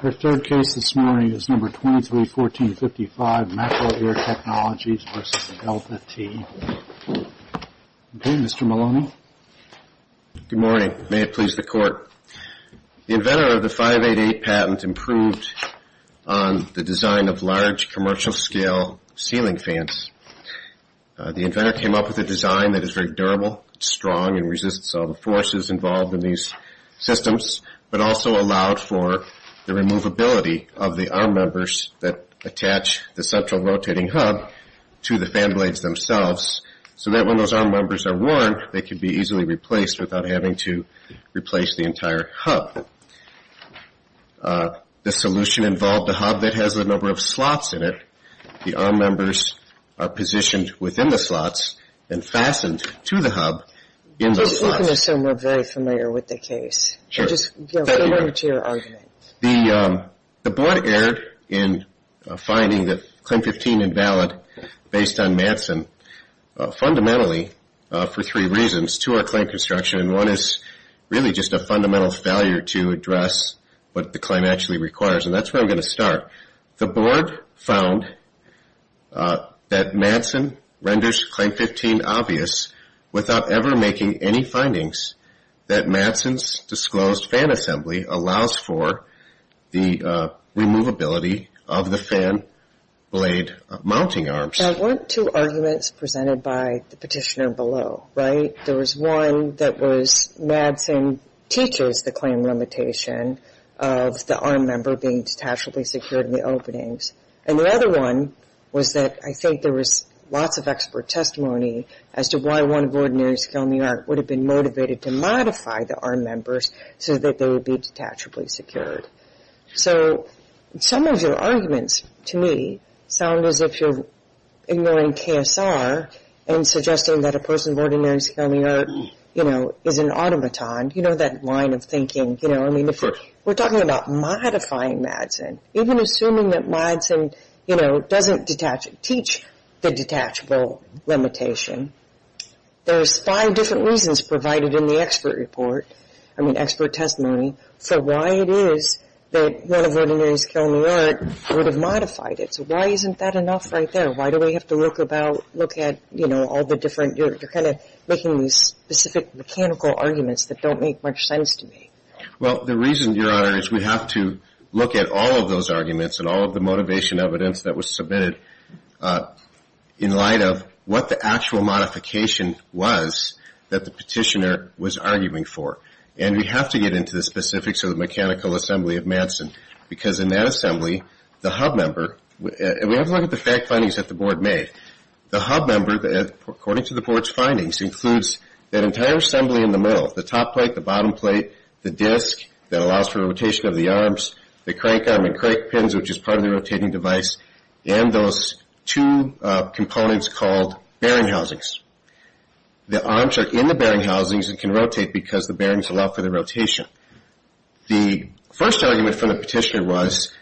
Her third case this morning is No. 231455, MacroAir Technologies, v. Delta T. Okay, Mr. Maloney. Good morning. May it please the Court. The inventor of the 588 patent improved on the design of large commercial-scale ceiling fans. The inventor came up with a design that is very durable, strong, and resists all the forces involved in these systems, but also allowed for the removability of the arm members that attach the central rotating hub to the fan blades themselves so that when those arm members are worn, they can be easily replaced without having to replace the entire hub. The solution involved a hub that has a number of slots in it. The arm members are positioned within the slots and fastened to the hub in those slots. I can assume we're very familiar with the case. Sure. Just go over to your argument. The Board erred in finding that Claim 15 invalid based on Madsen fundamentally for three reasons. Two are claim construction, and one is really just a fundamental failure to address what the claim actually requires, and that's where I'm going to start. The Board found that Madsen renders Claim 15 obvious without ever making any findings that Madsen's disclosed fan assembly allows for the removability of the fan blade mounting arms. There weren't two arguments presented by the petitioner below, right? There was one that was Madsen teaches the claim limitation of the arm member being detachably secured in the openings, and the other one was that I think there was lots of expert testimony as to why one of Ordinary Scale New York would have been motivated to modify the arm members so that they would be detachably secured. So some of your arguments to me sound as if you're ignoring KSR and suggesting that a person of Ordinary Scale New York, you know, is an automaton. You know that line of thinking, you know, I mean, we're talking about modifying Madsen. Even assuming that Madsen, you know, doesn't teach the detachable limitation, there's five different reasons provided in the expert report, I mean expert testimony, for why it is that one of Ordinary Scale New York would have modified it. So why isn't that enough right there? Why do we have to look at, you know, all the different, you're kind of making these specific mechanical arguments that don't make much sense to me. Well, the reason, Your Honor, is we have to look at all of those arguments and all of the motivation evidence that was submitted in light of what the actual modification was that the petitioner was arguing for, and we have to get into the specifics of the mechanical assembly of Madsen because in that assembly, the hub member, and we have to look at the fact findings that the board made. The hub member, according to the board's findings, includes that entire assembly in the middle, the top plate, the bottom plate, the disc that allows for rotation of the arms, the crank arm and crank pins, which is part of the rotating device, and those two components called bearing housings. The arms are in the bearing housings and can rotate because the bearings allow for the rotation. The first argument from the petitioner was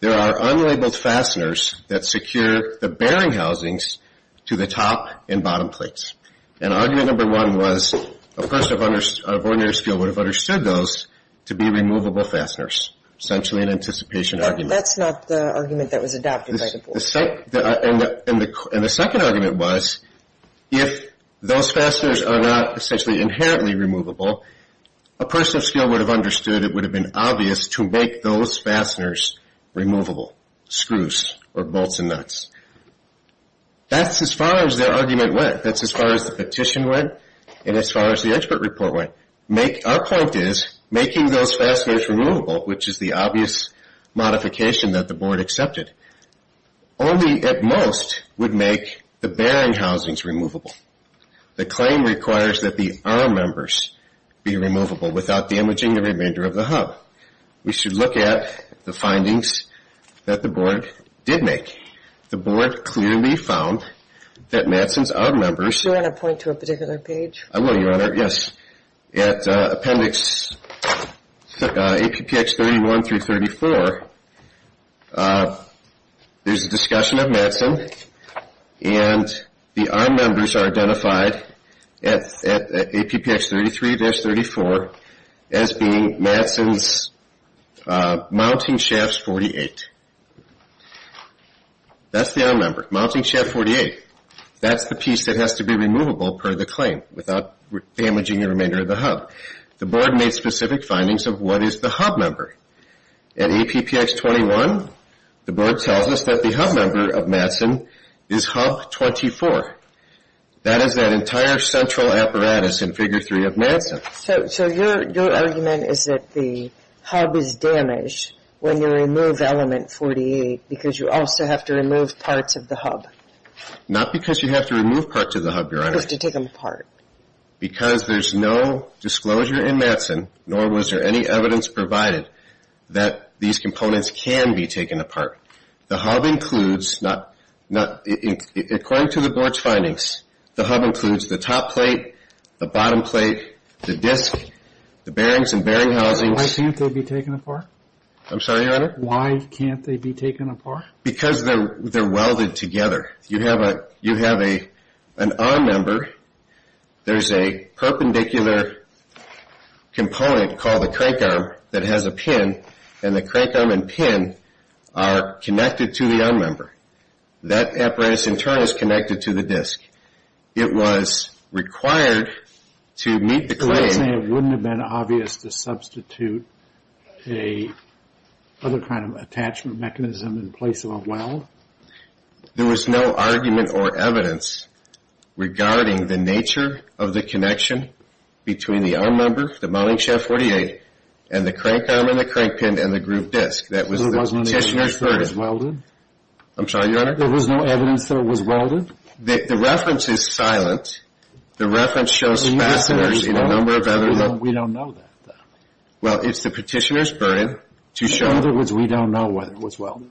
there are unlabeled fasteners that secure the bearing housings to the top and bottom plates. And argument number one was a person of ordinary skill would have understood those to be removable fasteners, essentially an anticipation argument. That's not the argument that was adopted by the board. And the second argument was if those fasteners are not essentially inherently removable, a person of skill would have understood it would have been obvious to make those fasteners removable, screws or bolts and nuts. That's as far as their argument went. That's as far as the petition went and as far as the expert report went. Our point is making those fasteners removable, which is the obvious modification that the board accepted, only at most would make the bearing housings removable. The claim requires that the arm members be removable without damaging the remainder of the hub. Now, we should look at the findings that the board did make. The board clearly found that Madsen's arm members. Do you want to point to a particular page? I will, Your Honor, yes. At appendix APPX 31 through 34, there's a discussion of Madsen and the arm members are identified at APPX 33-34 as being Madsen's mounting shafts 48. That's the arm member, mounting shaft 48. That's the piece that has to be removable per the claim without damaging the remainder of the hub. The board made specific findings of what is the hub member. At APPX 21, the board tells us that the hub member of Madsen is hub 24. That is that entire central apparatus in figure 3 of Madsen. So your argument is that the hub is damaged when you remove element 48 because you also have to remove parts of the hub? Not because you have to remove parts of the hub, Your Honor. You have to take them apart. Because there's no disclosure in Madsen, nor was there any evidence provided that these components can be taken apart. The hub includes, according to the board's findings, the hub includes the top plate, the bottom plate, the disc, the bearings and bearing housings. Why can't they be taken apart? I'm sorry, Your Honor? Why can't they be taken apart? Because they're welded together. You have an arm member. There's a perpendicular component called the crank arm that has a pin, and the crank arm and pin are connected to the arm member. That apparatus in turn is connected to the disc. It was required to meet the claim. So you're saying it wouldn't have been obvious to substitute another kind of attachment mechanism in place of a weld? There was no argument or evidence regarding the nature of the connection between the arm member, the mounting shaft 48, and the crank arm and the crank pin and the group disc. That was the petitioner's burden. There was no evidence that it was welded? I'm sorry, Your Honor? There was no evidence that it was welded? The reference is silent. The reference shows fasteners in a number of other... We don't know that, though. Well, it's the petitioner's burden to show... In other words, we don't know whether it was welded?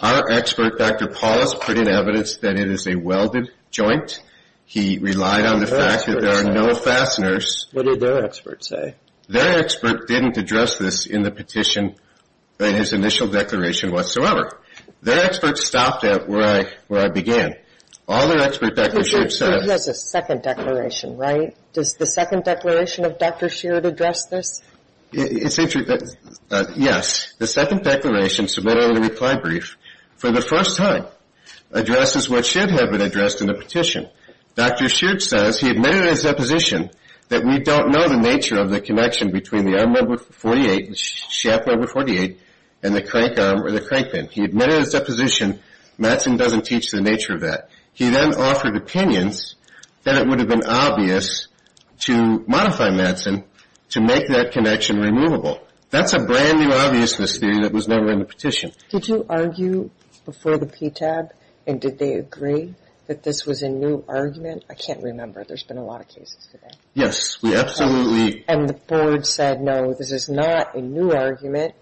Our expert, Dr. Paulus, put in evidence that it is a welded joint. He relied on the fact that there are no fasteners. What did their expert say? Their expert didn't address this in the petition in his initial declaration whatsoever. Their expert stopped at where I began. All their expert, Dr. Sheard, said... He has a second declaration, right? Does the second declaration of Dr. Sheard address this? Yes. The second declaration submitted in the reply brief, for the first time, addresses what should have been addressed in the petition. Dr. Sheard says he admitted in his deposition that we don't know the nature of the connection between the arm number 48, the shaft number 48, and the crank arm or the crank pin. He admitted in his deposition Madsen doesn't teach the nature of that. He then offered opinions that it would have been obvious to modify Madsen to make that connection removable. That's a brand-new obviousness theory that was never in the petition. Did you argue before the PTAB, and did they agree, that this was a new argument? I can't remember. There's been a lot of cases today. Yes. We absolutely... And the board said, no, this is not a new argument.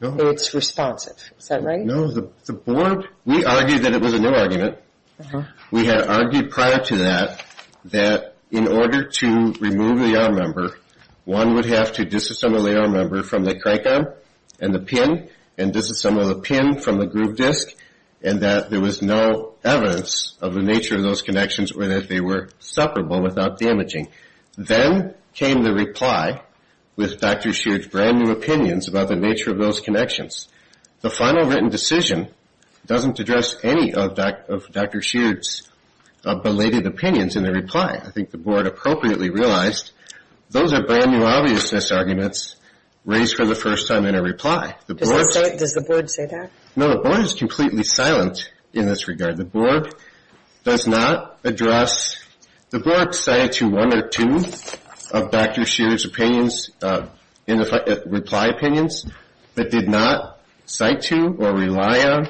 No. It's responsive. Is that right? No. The board... We argued that it was a new argument. Uh-huh. We had argued prior to that that in order to remove the arm number, one would have to disassemble the arm number from the crank arm and the pin and disassemble the pin from the groove disc and that there was no evidence of the nature of those connections or that they were separable without damaging. Then came the reply with Dr. Sheard's brand-new opinions about the nature of those connections. The final written decision doesn't address any of Dr. Sheard's belated opinions in the reply. I think the board appropriately realized those are brand-new obviousness arguments raised for the first time in a reply. Does the board say that? No. The board is completely silent in this regard. The board does not address...... cite to or rely on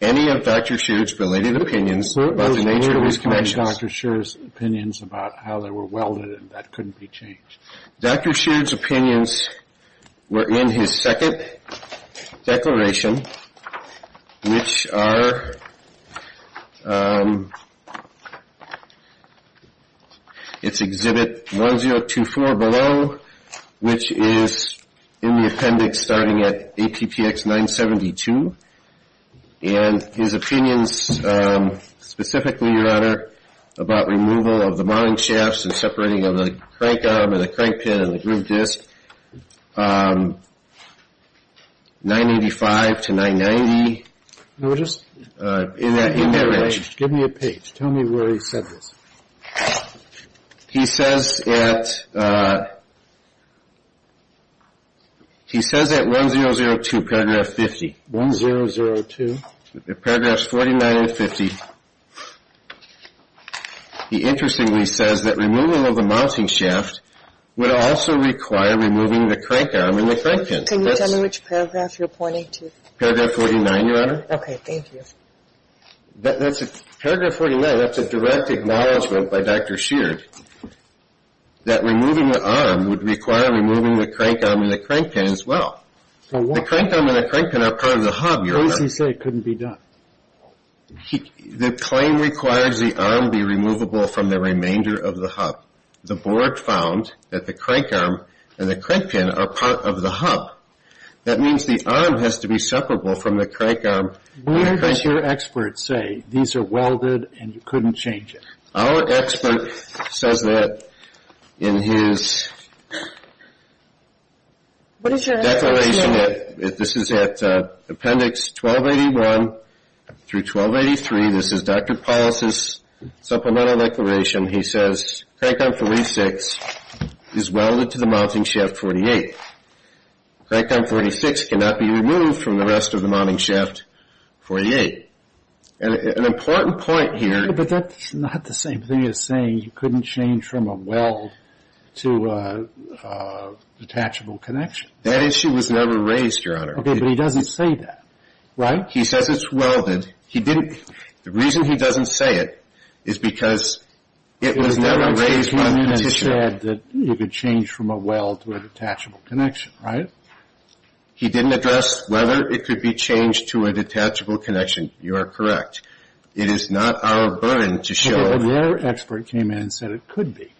any of Dr. Sheard's belated opinions about the nature of his connections. Those weren't Dr. Sheard's opinions about how they were welded and that couldn't be changed. Dr. Sheard's opinions were in his second declaration, which are... and his opinions specifically, Your Honor, about removal of the mounting shafts and separating of the crank arm and the crank pin and the groove disc, 985 to 990... Notice? In that... Give me a page. Tell me where he said this. He says at... He says at 1002, paragraph 50. 1002? Paragraphs 49 and 50. He interestingly says that removal of the mounting shaft would also require removing the crank arm and the crank pin. Can you tell me which paragraph you're pointing to? Paragraph 49, Your Honor. Okay. Thank you. Paragraph 49, that's a direct acknowledgment by Dr. Sheard that removing the arm would require removing the crank arm and the crank pin as well. The crank arm and the crank pin are part of the hub, Your Honor. What does he say couldn't be done? The claim requires the arm be removable from the remainder of the hub. The board found that the crank arm and the crank pin are part of the hub. That means the arm has to be separable from the crank arm. Where does your expert say these are welded and you couldn't change it? Our expert says that in his declaration... What is your expert saying? This is at Appendix 1281 through 1283. This is Dr. Paul's supplemental declaration. He says crank arm 36 is welded to the mounting shaft 48. Crank arm 36 cannot be removed from the rest of the mounting shaft 48. An important point here... But that's not the same thing as saying you couldn't change from a weld to a detachable connection. That issue was never raised, Your Honor. Okay, but he doesn't say that, right? He says it's welded. The reason he doesn't say it is because it was never raised by the petitioner. He said that you could change from a weld to a detachable connection, right? He didn't address whether it could be changed to a detachable connection. You are correct. It is not our burden to show... But their expert came in and said it could be.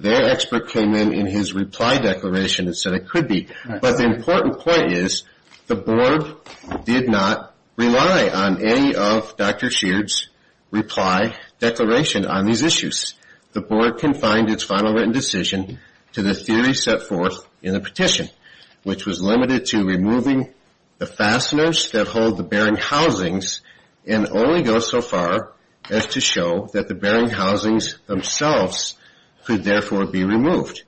Their expert came in in his reply declaration and said it could be. But the important point is the board did not rely on any of Dr. Sheard's reply declaration on these issues. The board confined its final written decision to the theory set forth in the petition, which was limited to removing the fasteners that hold the bearing housings and only go so far as to show that the bearing housings themselves could therefore be removed.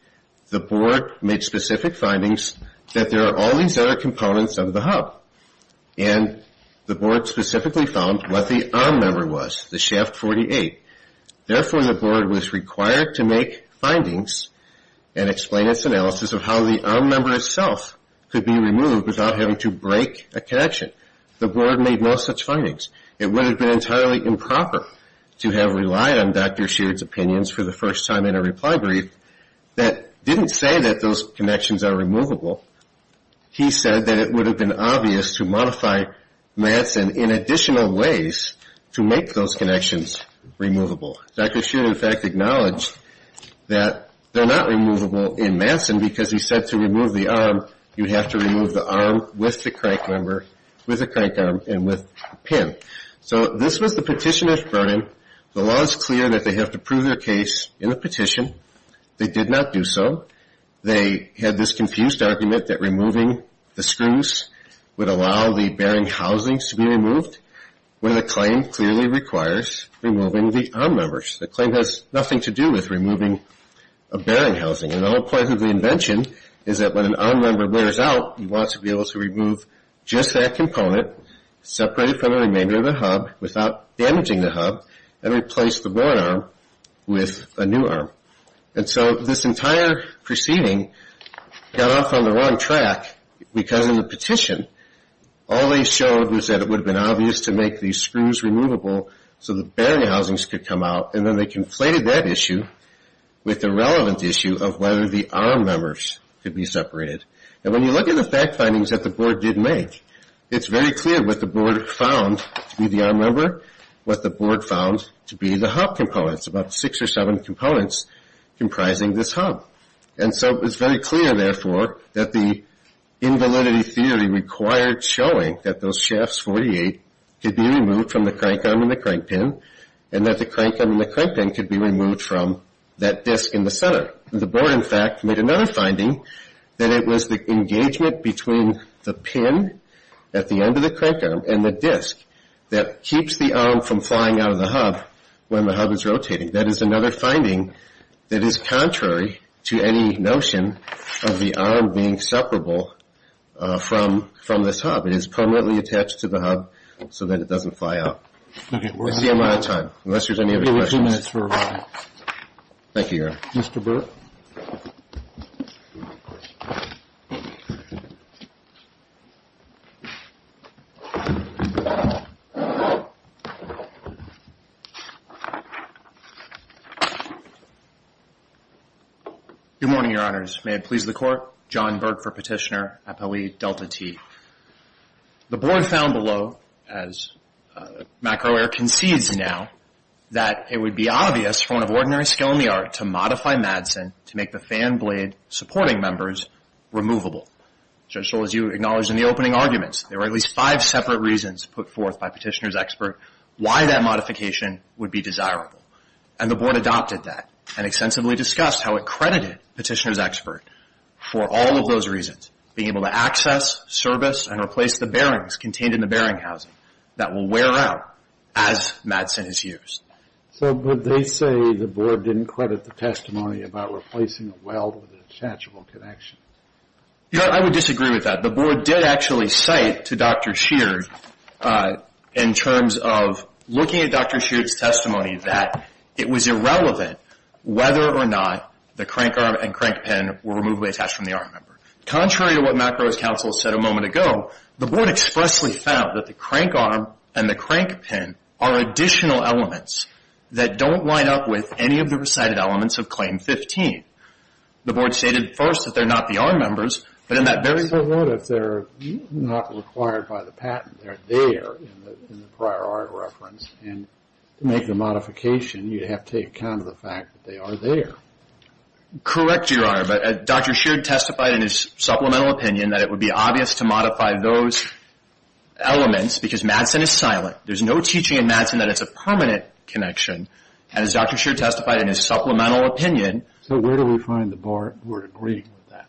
The board made specific findings that there are all these other components of the hub, and the board specifically found what the arm member was, the shaft 48. Therefore, the board was required to make findings and explain its analysis of how the arm member itself could be removed without having to break a connection. The board made no such findings. It would have been entirely improper to have relied on Dr. Sheard's opinions for the first time in a reply brief that didn't say that those connections are removable. He said that it would have been obvious to modify Matson in additional ways to make those connections removable. Dr. Sheard, in fact, acknowledged that they're not removable in Matson because he said to remove the arm, you'd have to remove the arm with the crank member, with the crank arm, and with the pin. So this was the petitioner's burden. The law is clear that they have to prove their case in the petition. They did not do so. They had this confused argument that removing the screws would allow the bearing housings to be removed, when the claim clearly requires removing the arm members. The claim has nothing to do with removing a bearing housing. And the whole point of the invention is that when an arm member wears out, you want to be able to remove just that component, separate it from the remainder of the hub, without damaging the hub, and replace the worn arm with a new arm. And so this entire proceeding got off on the wrong track, because in the petition all they showed was that it would have been obvious to make these screws removable so the bearing housings could come out, and then they conflated that issue with the relevant issue of whether the arm members could be separated. And when you look at the fact findings that the board did make, it's very clear what the board found to be the arm member, what the board found to be the hub components, about six or seven components comprising this hub. And so it's very clear, therefore, that the invalidity theory required showing that those shafts, 48, could be removed from the crank arm and the crank pin, and that the crank arm and the crank pin could be removed from that disc in the center. The board, in fact, made another finding that it was the engagement between the pin at the end of the crank arm and the disc that keeps the arm from flying out of the hub when the hub is rotating. That is another finding that is contrary to any notion of the arm being separable from this hub. It is permanently attached to the hub so that it doesn't fly out. I see I'm out of time, unless there's any other questions. Thank you, Your Honor. Mr. Burke. Good morning, Your Honors. May it please the Court. John Burke for Petitioner, Appellee Delta T. The board found below, as McElroy concedes now, that it would be obvious for one of ordinary skill in the art to modify MADSEN to make the fan blade supporting members removable. Judge Scholz, you acknowledged in the opening arguments there were at least five separate reasons put forth by Petitioner's expert why that modification would be desirable. And the board adopted that and extensively discussed how it credited Petitioner's expert for all of those reasons, being able to access, service, and replace the bearings contained in the bearing housing that will wear out as MADSEN is used. So would they say the board didn't credit the testimony about replacing a weld with an attachable connection? Your Honor, I would disagree with that. The board did actually cite to Dr. Sheard in terms of looking at Dr. Sheard's testimony that it was irrelevant whether or not the crank arm and crank pin were removably attached from the arm member. Contrary to what McElroy's counsel said a moment ago, the board expressly found that the crank arm and the crank pin are additional elements that don't line up with any of the recited elements of Claim 15. The board stated first that they're not the arm members, but in that very... So what if they're not required by the patent? They're there in the prior art reference. And to make the modification, you'd have to take account of the fact that they are there. Correct, Your Honor, but Dr. Sheard testified in his supplemental opinion that it would be obvious to modify those elements because MADSEN is silent. There's no teaching in MADSEN that it's a permanent connection. And as Dr. Sheard testified in his supplemental opinion... So where do we find the board agreeing with that?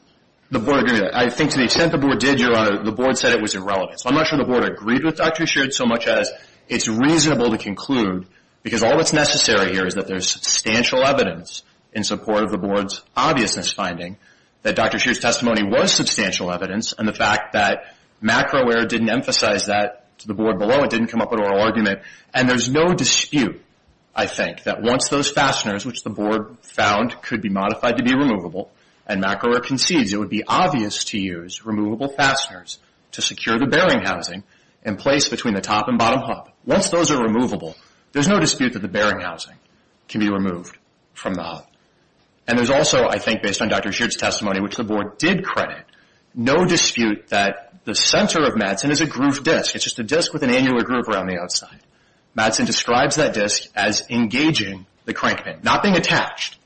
The board agreed with that. I think to the extent the board did, Your Honor, the board said it was irrelevant. So I'm not sure the board agreed with Dr. Sheard so much as it's reasonable to conclude because all that's necessary here is that there's substantial evidence in support of the board's obviousness finding that Dr. Sheard's testimony was substantial evidence and the fact that MACRAWARE didn't emphasize that to the board below. It didn't come up at oral argument. And there's no dispute, I think, that once those fasteners, which the board found could be modified to be removable and MACRAWARE concedes it would be obvious to use removable fasteners to secure the bearing housing in place between the top and bottom hub. Once those are removable, there's no dispute that the bearing housing can be removed from the hub. And there's also, I think, based on Dr. Sheard's testimony, which the board did credit, no dispute that the center of MADSEN is a grooved disc. It's just a disc with an annular groove around the outside. MADSEN describes that disc as engaging the crank pin, not being attached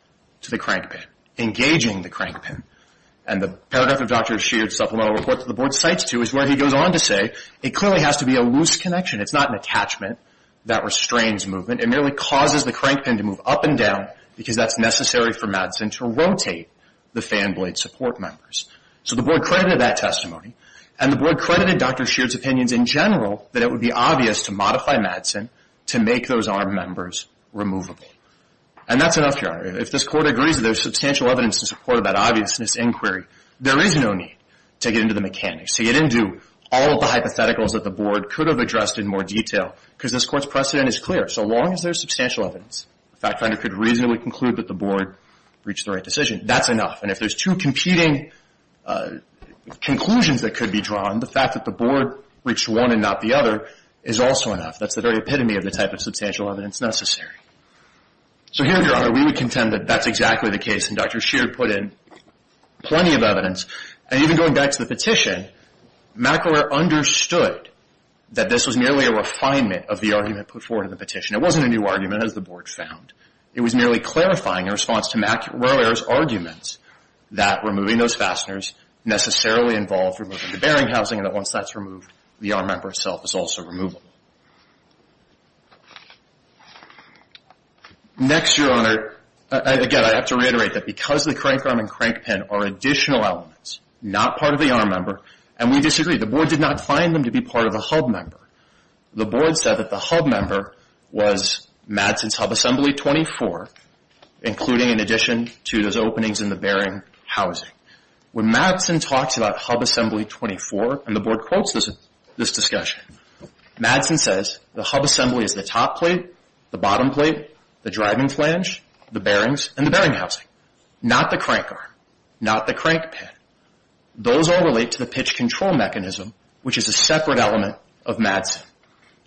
to the crank pin, engaging the crank pin. And the paragraph of Dr. Sheard's supplemental report that the board cites to is where he goes on to say it clearly has to be a loose connection. It's not an attachment that restrains movement. It merely causes the crank pin to move up and down because that's necessary for MADSEN to rotate the fan blade support members. So the board credited that testimony, and the board credited Dr. Sheard's opinions in general that it would be obvious to modify MADSEN to make those arm members removable. And that's enough, Your Honor. If this Court agrees that there's substantial evidence to support that obviousness inquiry, there is no need to get into the mechanics, to get into all of the hypotheticals that the board could have addressed in more detail because this Court's precedent is clear. So long as there's substantial evidence, the fact finder could reasonably conclude that the board reached the right decision. That's enough. And if there's two competing conclusions that could be drawn, the fact that the board reached one and not the other is also enough. That's the very epitome of the type of substantial evidence necessary. So here, Your Honor, we would contend that that's exactly the case, and Dr. Sheard put in plenty of evidence. And even going back to the petition, McElroy understood that this was merely a refinement of the argument put forward in the petition. It wasn't a new argument, as the board found. It was merely clarifying in response to McElroy's arguments that removing those fasteners necessarily involved removing the bearing housing, and that once that's removed, the arm member itself is also removable. Next, Your Honor, again, I have to reiterate that because the crank arm and crank pin are additional elements, not part of the arm member, and we disagree. The board did not find them to be part of the hub member. The board said that the hub member was Madsen's hub assembly 24, including in addition to those openings in the bearing housing. When Madsen talks about hub assembly 24, and the board quotes this discussion, Madsen says the hub assembly is the top plate, the bottom plate, the driving flange, the bearings, and the bearing housing, not the crank arm, not the crank pin. Those all relate to the pitch control mechanism, which is a separate element of Madsen,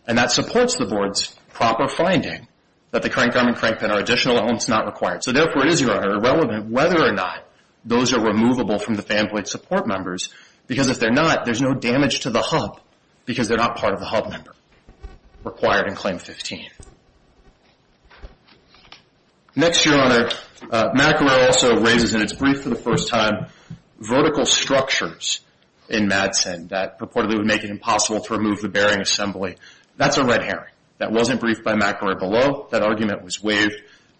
and that supports the board's proper finding that the crank arm and crank pin are additional elements not required. So, therefore, it is, Your Honor, irrelevant whether or not those are removable from the fan plate support members, because if they're not, there's no damage to the hub, because they're not part of the hub member required in Claim 15. Next, Your Honor, McElroy also raises in its brief for the first time vertical structures in Madsen that purportedly would make it impossible to remove the bearing assembly. That's a red herring. That wasn't briefed by McElroy below. That argument was waived.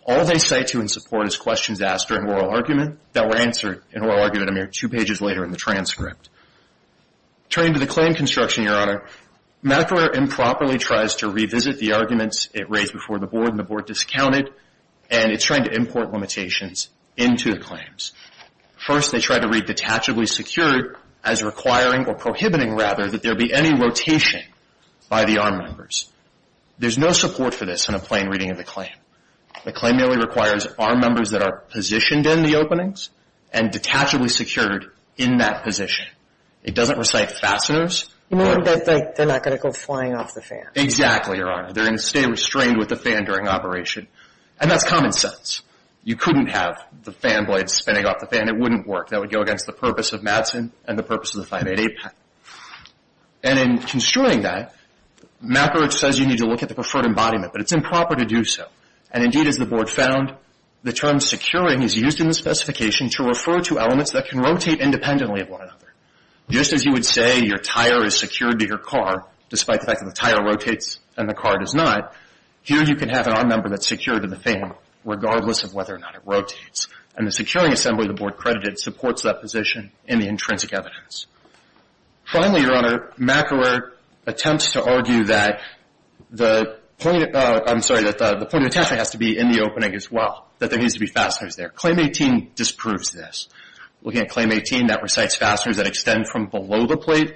All they cite to in support is questions asked during oral argument that were answered in oral argument a mere two pages later in the transcript. Turning to the claim construction, Your Honor, McElroy improperly tries to revisit the arguments it raised before the board, and the board discounted, and it's trying to import limitations into the claims. First, they tried to read detachably secured as requiring, or prohibiting, rather, that there be any rotation by the arm members. There's no support for this in a plain reading of the claim. The claim merely requires arm members that are positioned in the openings and detachably secured in that position. It doesn't recite fasteners. You mean that they're not going to go flying off the fan. Exactly, Your Honor. They're going to stay restrained with the fan during operation, and that's common sense. You couldn't have the fan blades spinning off the fan. It wouldn't work. That would go against the purpose of Madsen and the purpose of the 588 patent. And in construing that, McElroy says you need to look at the preferred embodiment, but it's improper to do so. And indeed, as the board found, the term securing is used in the specification to refer to elements that can rotate independently of one another. Just as you would say your tire is secured to your car, despite the fact that the tire rotates and the car does not, here you can have an arm member that's secured to the fan, regardless of whether or not it rotates. And the securing assembly the board credited supports that position in the intrinsic evidence. Finally, Your Honor, McElroy attempts to argue that the point of attachment has to be in the opening as well, that there needs to be fasteners there. Claim 18 disproves this. Looking at Claim 18, that recites fasteners that extend from below the plate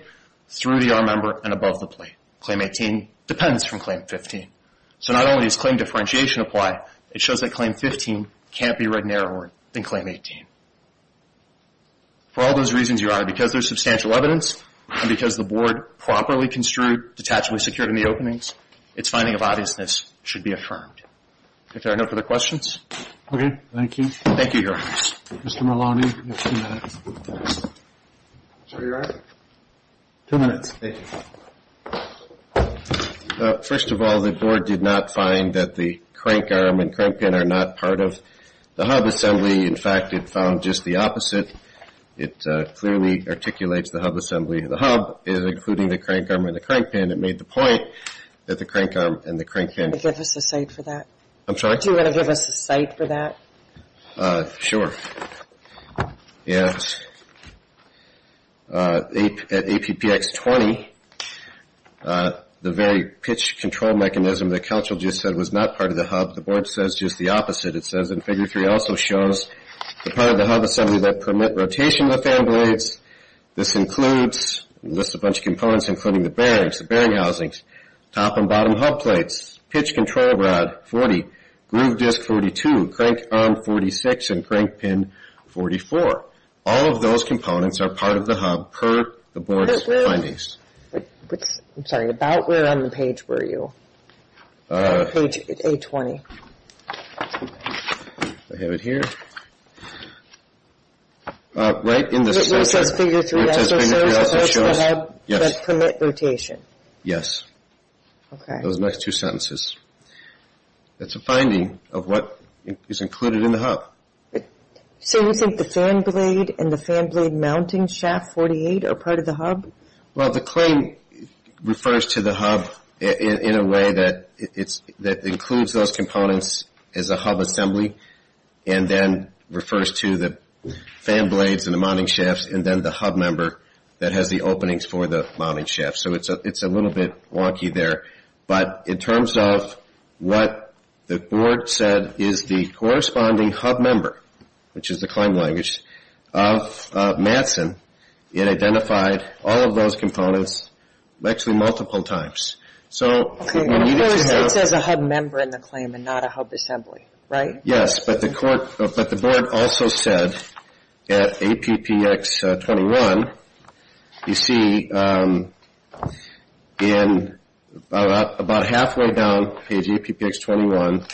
through the arm member and above the plate. Claim 18 depends from Claim 15. So not only does claim differentiation apply, it shows that Claim 15 can't be read narrower than Claim 18. For all those reasons, Your Honor, because there's substantial evidence and because the board properly construed detachably secured in the openings, its finding of obviousness should be affirmed. If there are no further questions. Okay. Thank you. Thank you, Your Honor. Mr. Maloney, you have two minutes. Sir, Your Honor? Two minutes. Thank you. First of all, the board did not find that the crank arm and crank pin are not part of the hub assembly. In fact, it found just the opposite. It clearly articulates the hub assembly. The hub is including the crank arm and the crank pin. It made the point that the crank arm and the crank pin. Do you want to give us a cite for that? I'm sorry? Do you want to give us a cite for that? Sure. Yes. At APPX 20, the very pitch control mechanism that Counsel just said was not part of the hub, the board says just the opposite. It says in Figure 3 also shows that part of the hub assembly that permit rotation of the fan blades. This includes, lists a bunch of components including the bearings, the bearing housings, top and bottom hub plates, pitch control rod 40, groove disc 42, crank arm 46, and crank pin 44. All of those components are part of the hub per the board's findings. I'm sorry. About where on the page were you? Page A20. Okay. I have it here. Right in this. Where it says Figure 3 also shows the hub that permit rotation. Yes. Okay. Those next two sentences. That's a finding of what is included in the hub. So you think the fan blade and the fan blade mounting shaft 48 are part of the hub? Well, the claim refers to the hub in a way that includes those components as a hub assembly and then refers to the fan blades and the mounting shafts and then the hub member that has the openings for the mounting shafts. So it's a little bit wonky there. But in terms of what the board said is the corresponding hub member, which is the claim language, of Madsen, it identified all of those components actually multiple times. Okay. Of course, it says a hub member in the claim and not a hub assembly, right? Yes. But the board also said at APPX 21, you see about halfway down page APPX 21,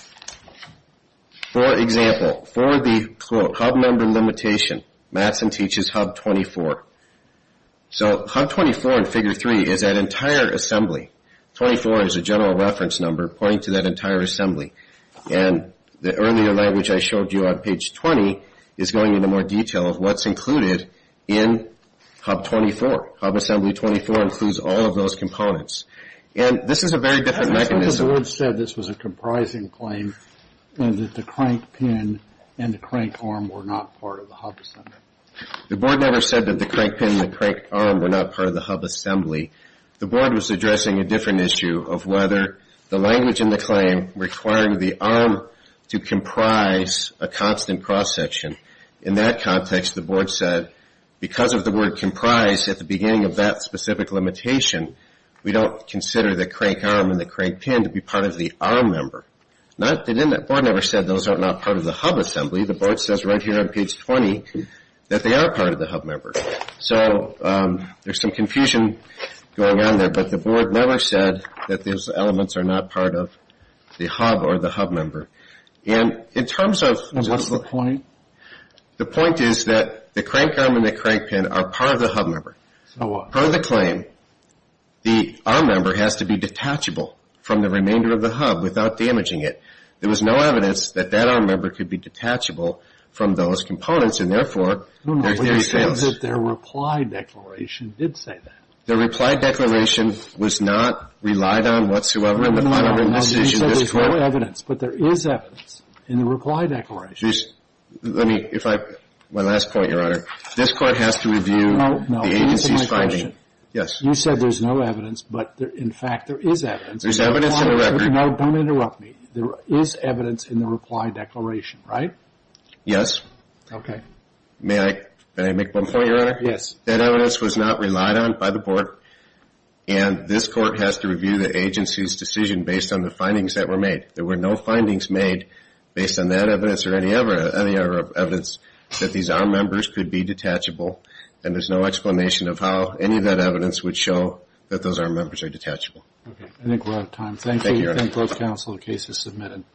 for example, for the hub member limitation, Madsen teaches hub 24. So hub 24 in Figure 3 is that entire assembly. 24 is a general reference number pointing to that entire assembly. And the earlier language I showed you on page 20 is going into more detail of what's included in hub 24. Hub assembly 24 includes all of those components. And this is a very different mechanism. The board said this was a comprising claim and that the crank pin and the crank arm were not part of the hub assembly. The board never said that the crank pin and the crank arm were not part of the hub assembly. The board was addressing a different issue of whether the language in the claim requiring the arm to comprise a constant cross-section. In that context, the board said because of the word comprise at the beginning of that specific limitation, we don't consider the crank arm and the crank pin to be part of the arm member. The board never said those are not part of the hub assembly. The board says right here on page 20 that they are part of the hub member. So there's some confusion going on there, but the board never said that those elements are not part of the hub or the hub member. And in terms of the point is that the crank arm and the crank pin are part of the hub member. Part of the claim. The arm member has to be detachable from the remainder of the hub without damaging it. There was no evidence that that arm member could be detachable from those components and, therefore, their theory fails. No, no. What you're saying is that their reply declaration did say that. Their reply declaration was not relied on whatsoever in the final written decision of this Court. No, no. You said there's no evidence, but there is evidence in the reply declaration. Let me, if I, my last point, Your Honor. This Court has to review the agency's finding. You said there's no evidence, but, in fact, there is evidence. There's evidence in the record. Don't interrupt me. There is evidence in the reply declaration, right? Yes. Okay. May I make one point, Your Honor? Yes. That evidence was not relied on by the board, and this Court has to review the agency's decision based on the findings that were made. There were no findings made based on that evidence or any other evidence that these arm members could be detachable, and there's no explanation of how any of that evidence would show that those arm members are detachable. Okay. I think we're out of time. Thank you, Your Honor. Thank both counsel. The case is submitted.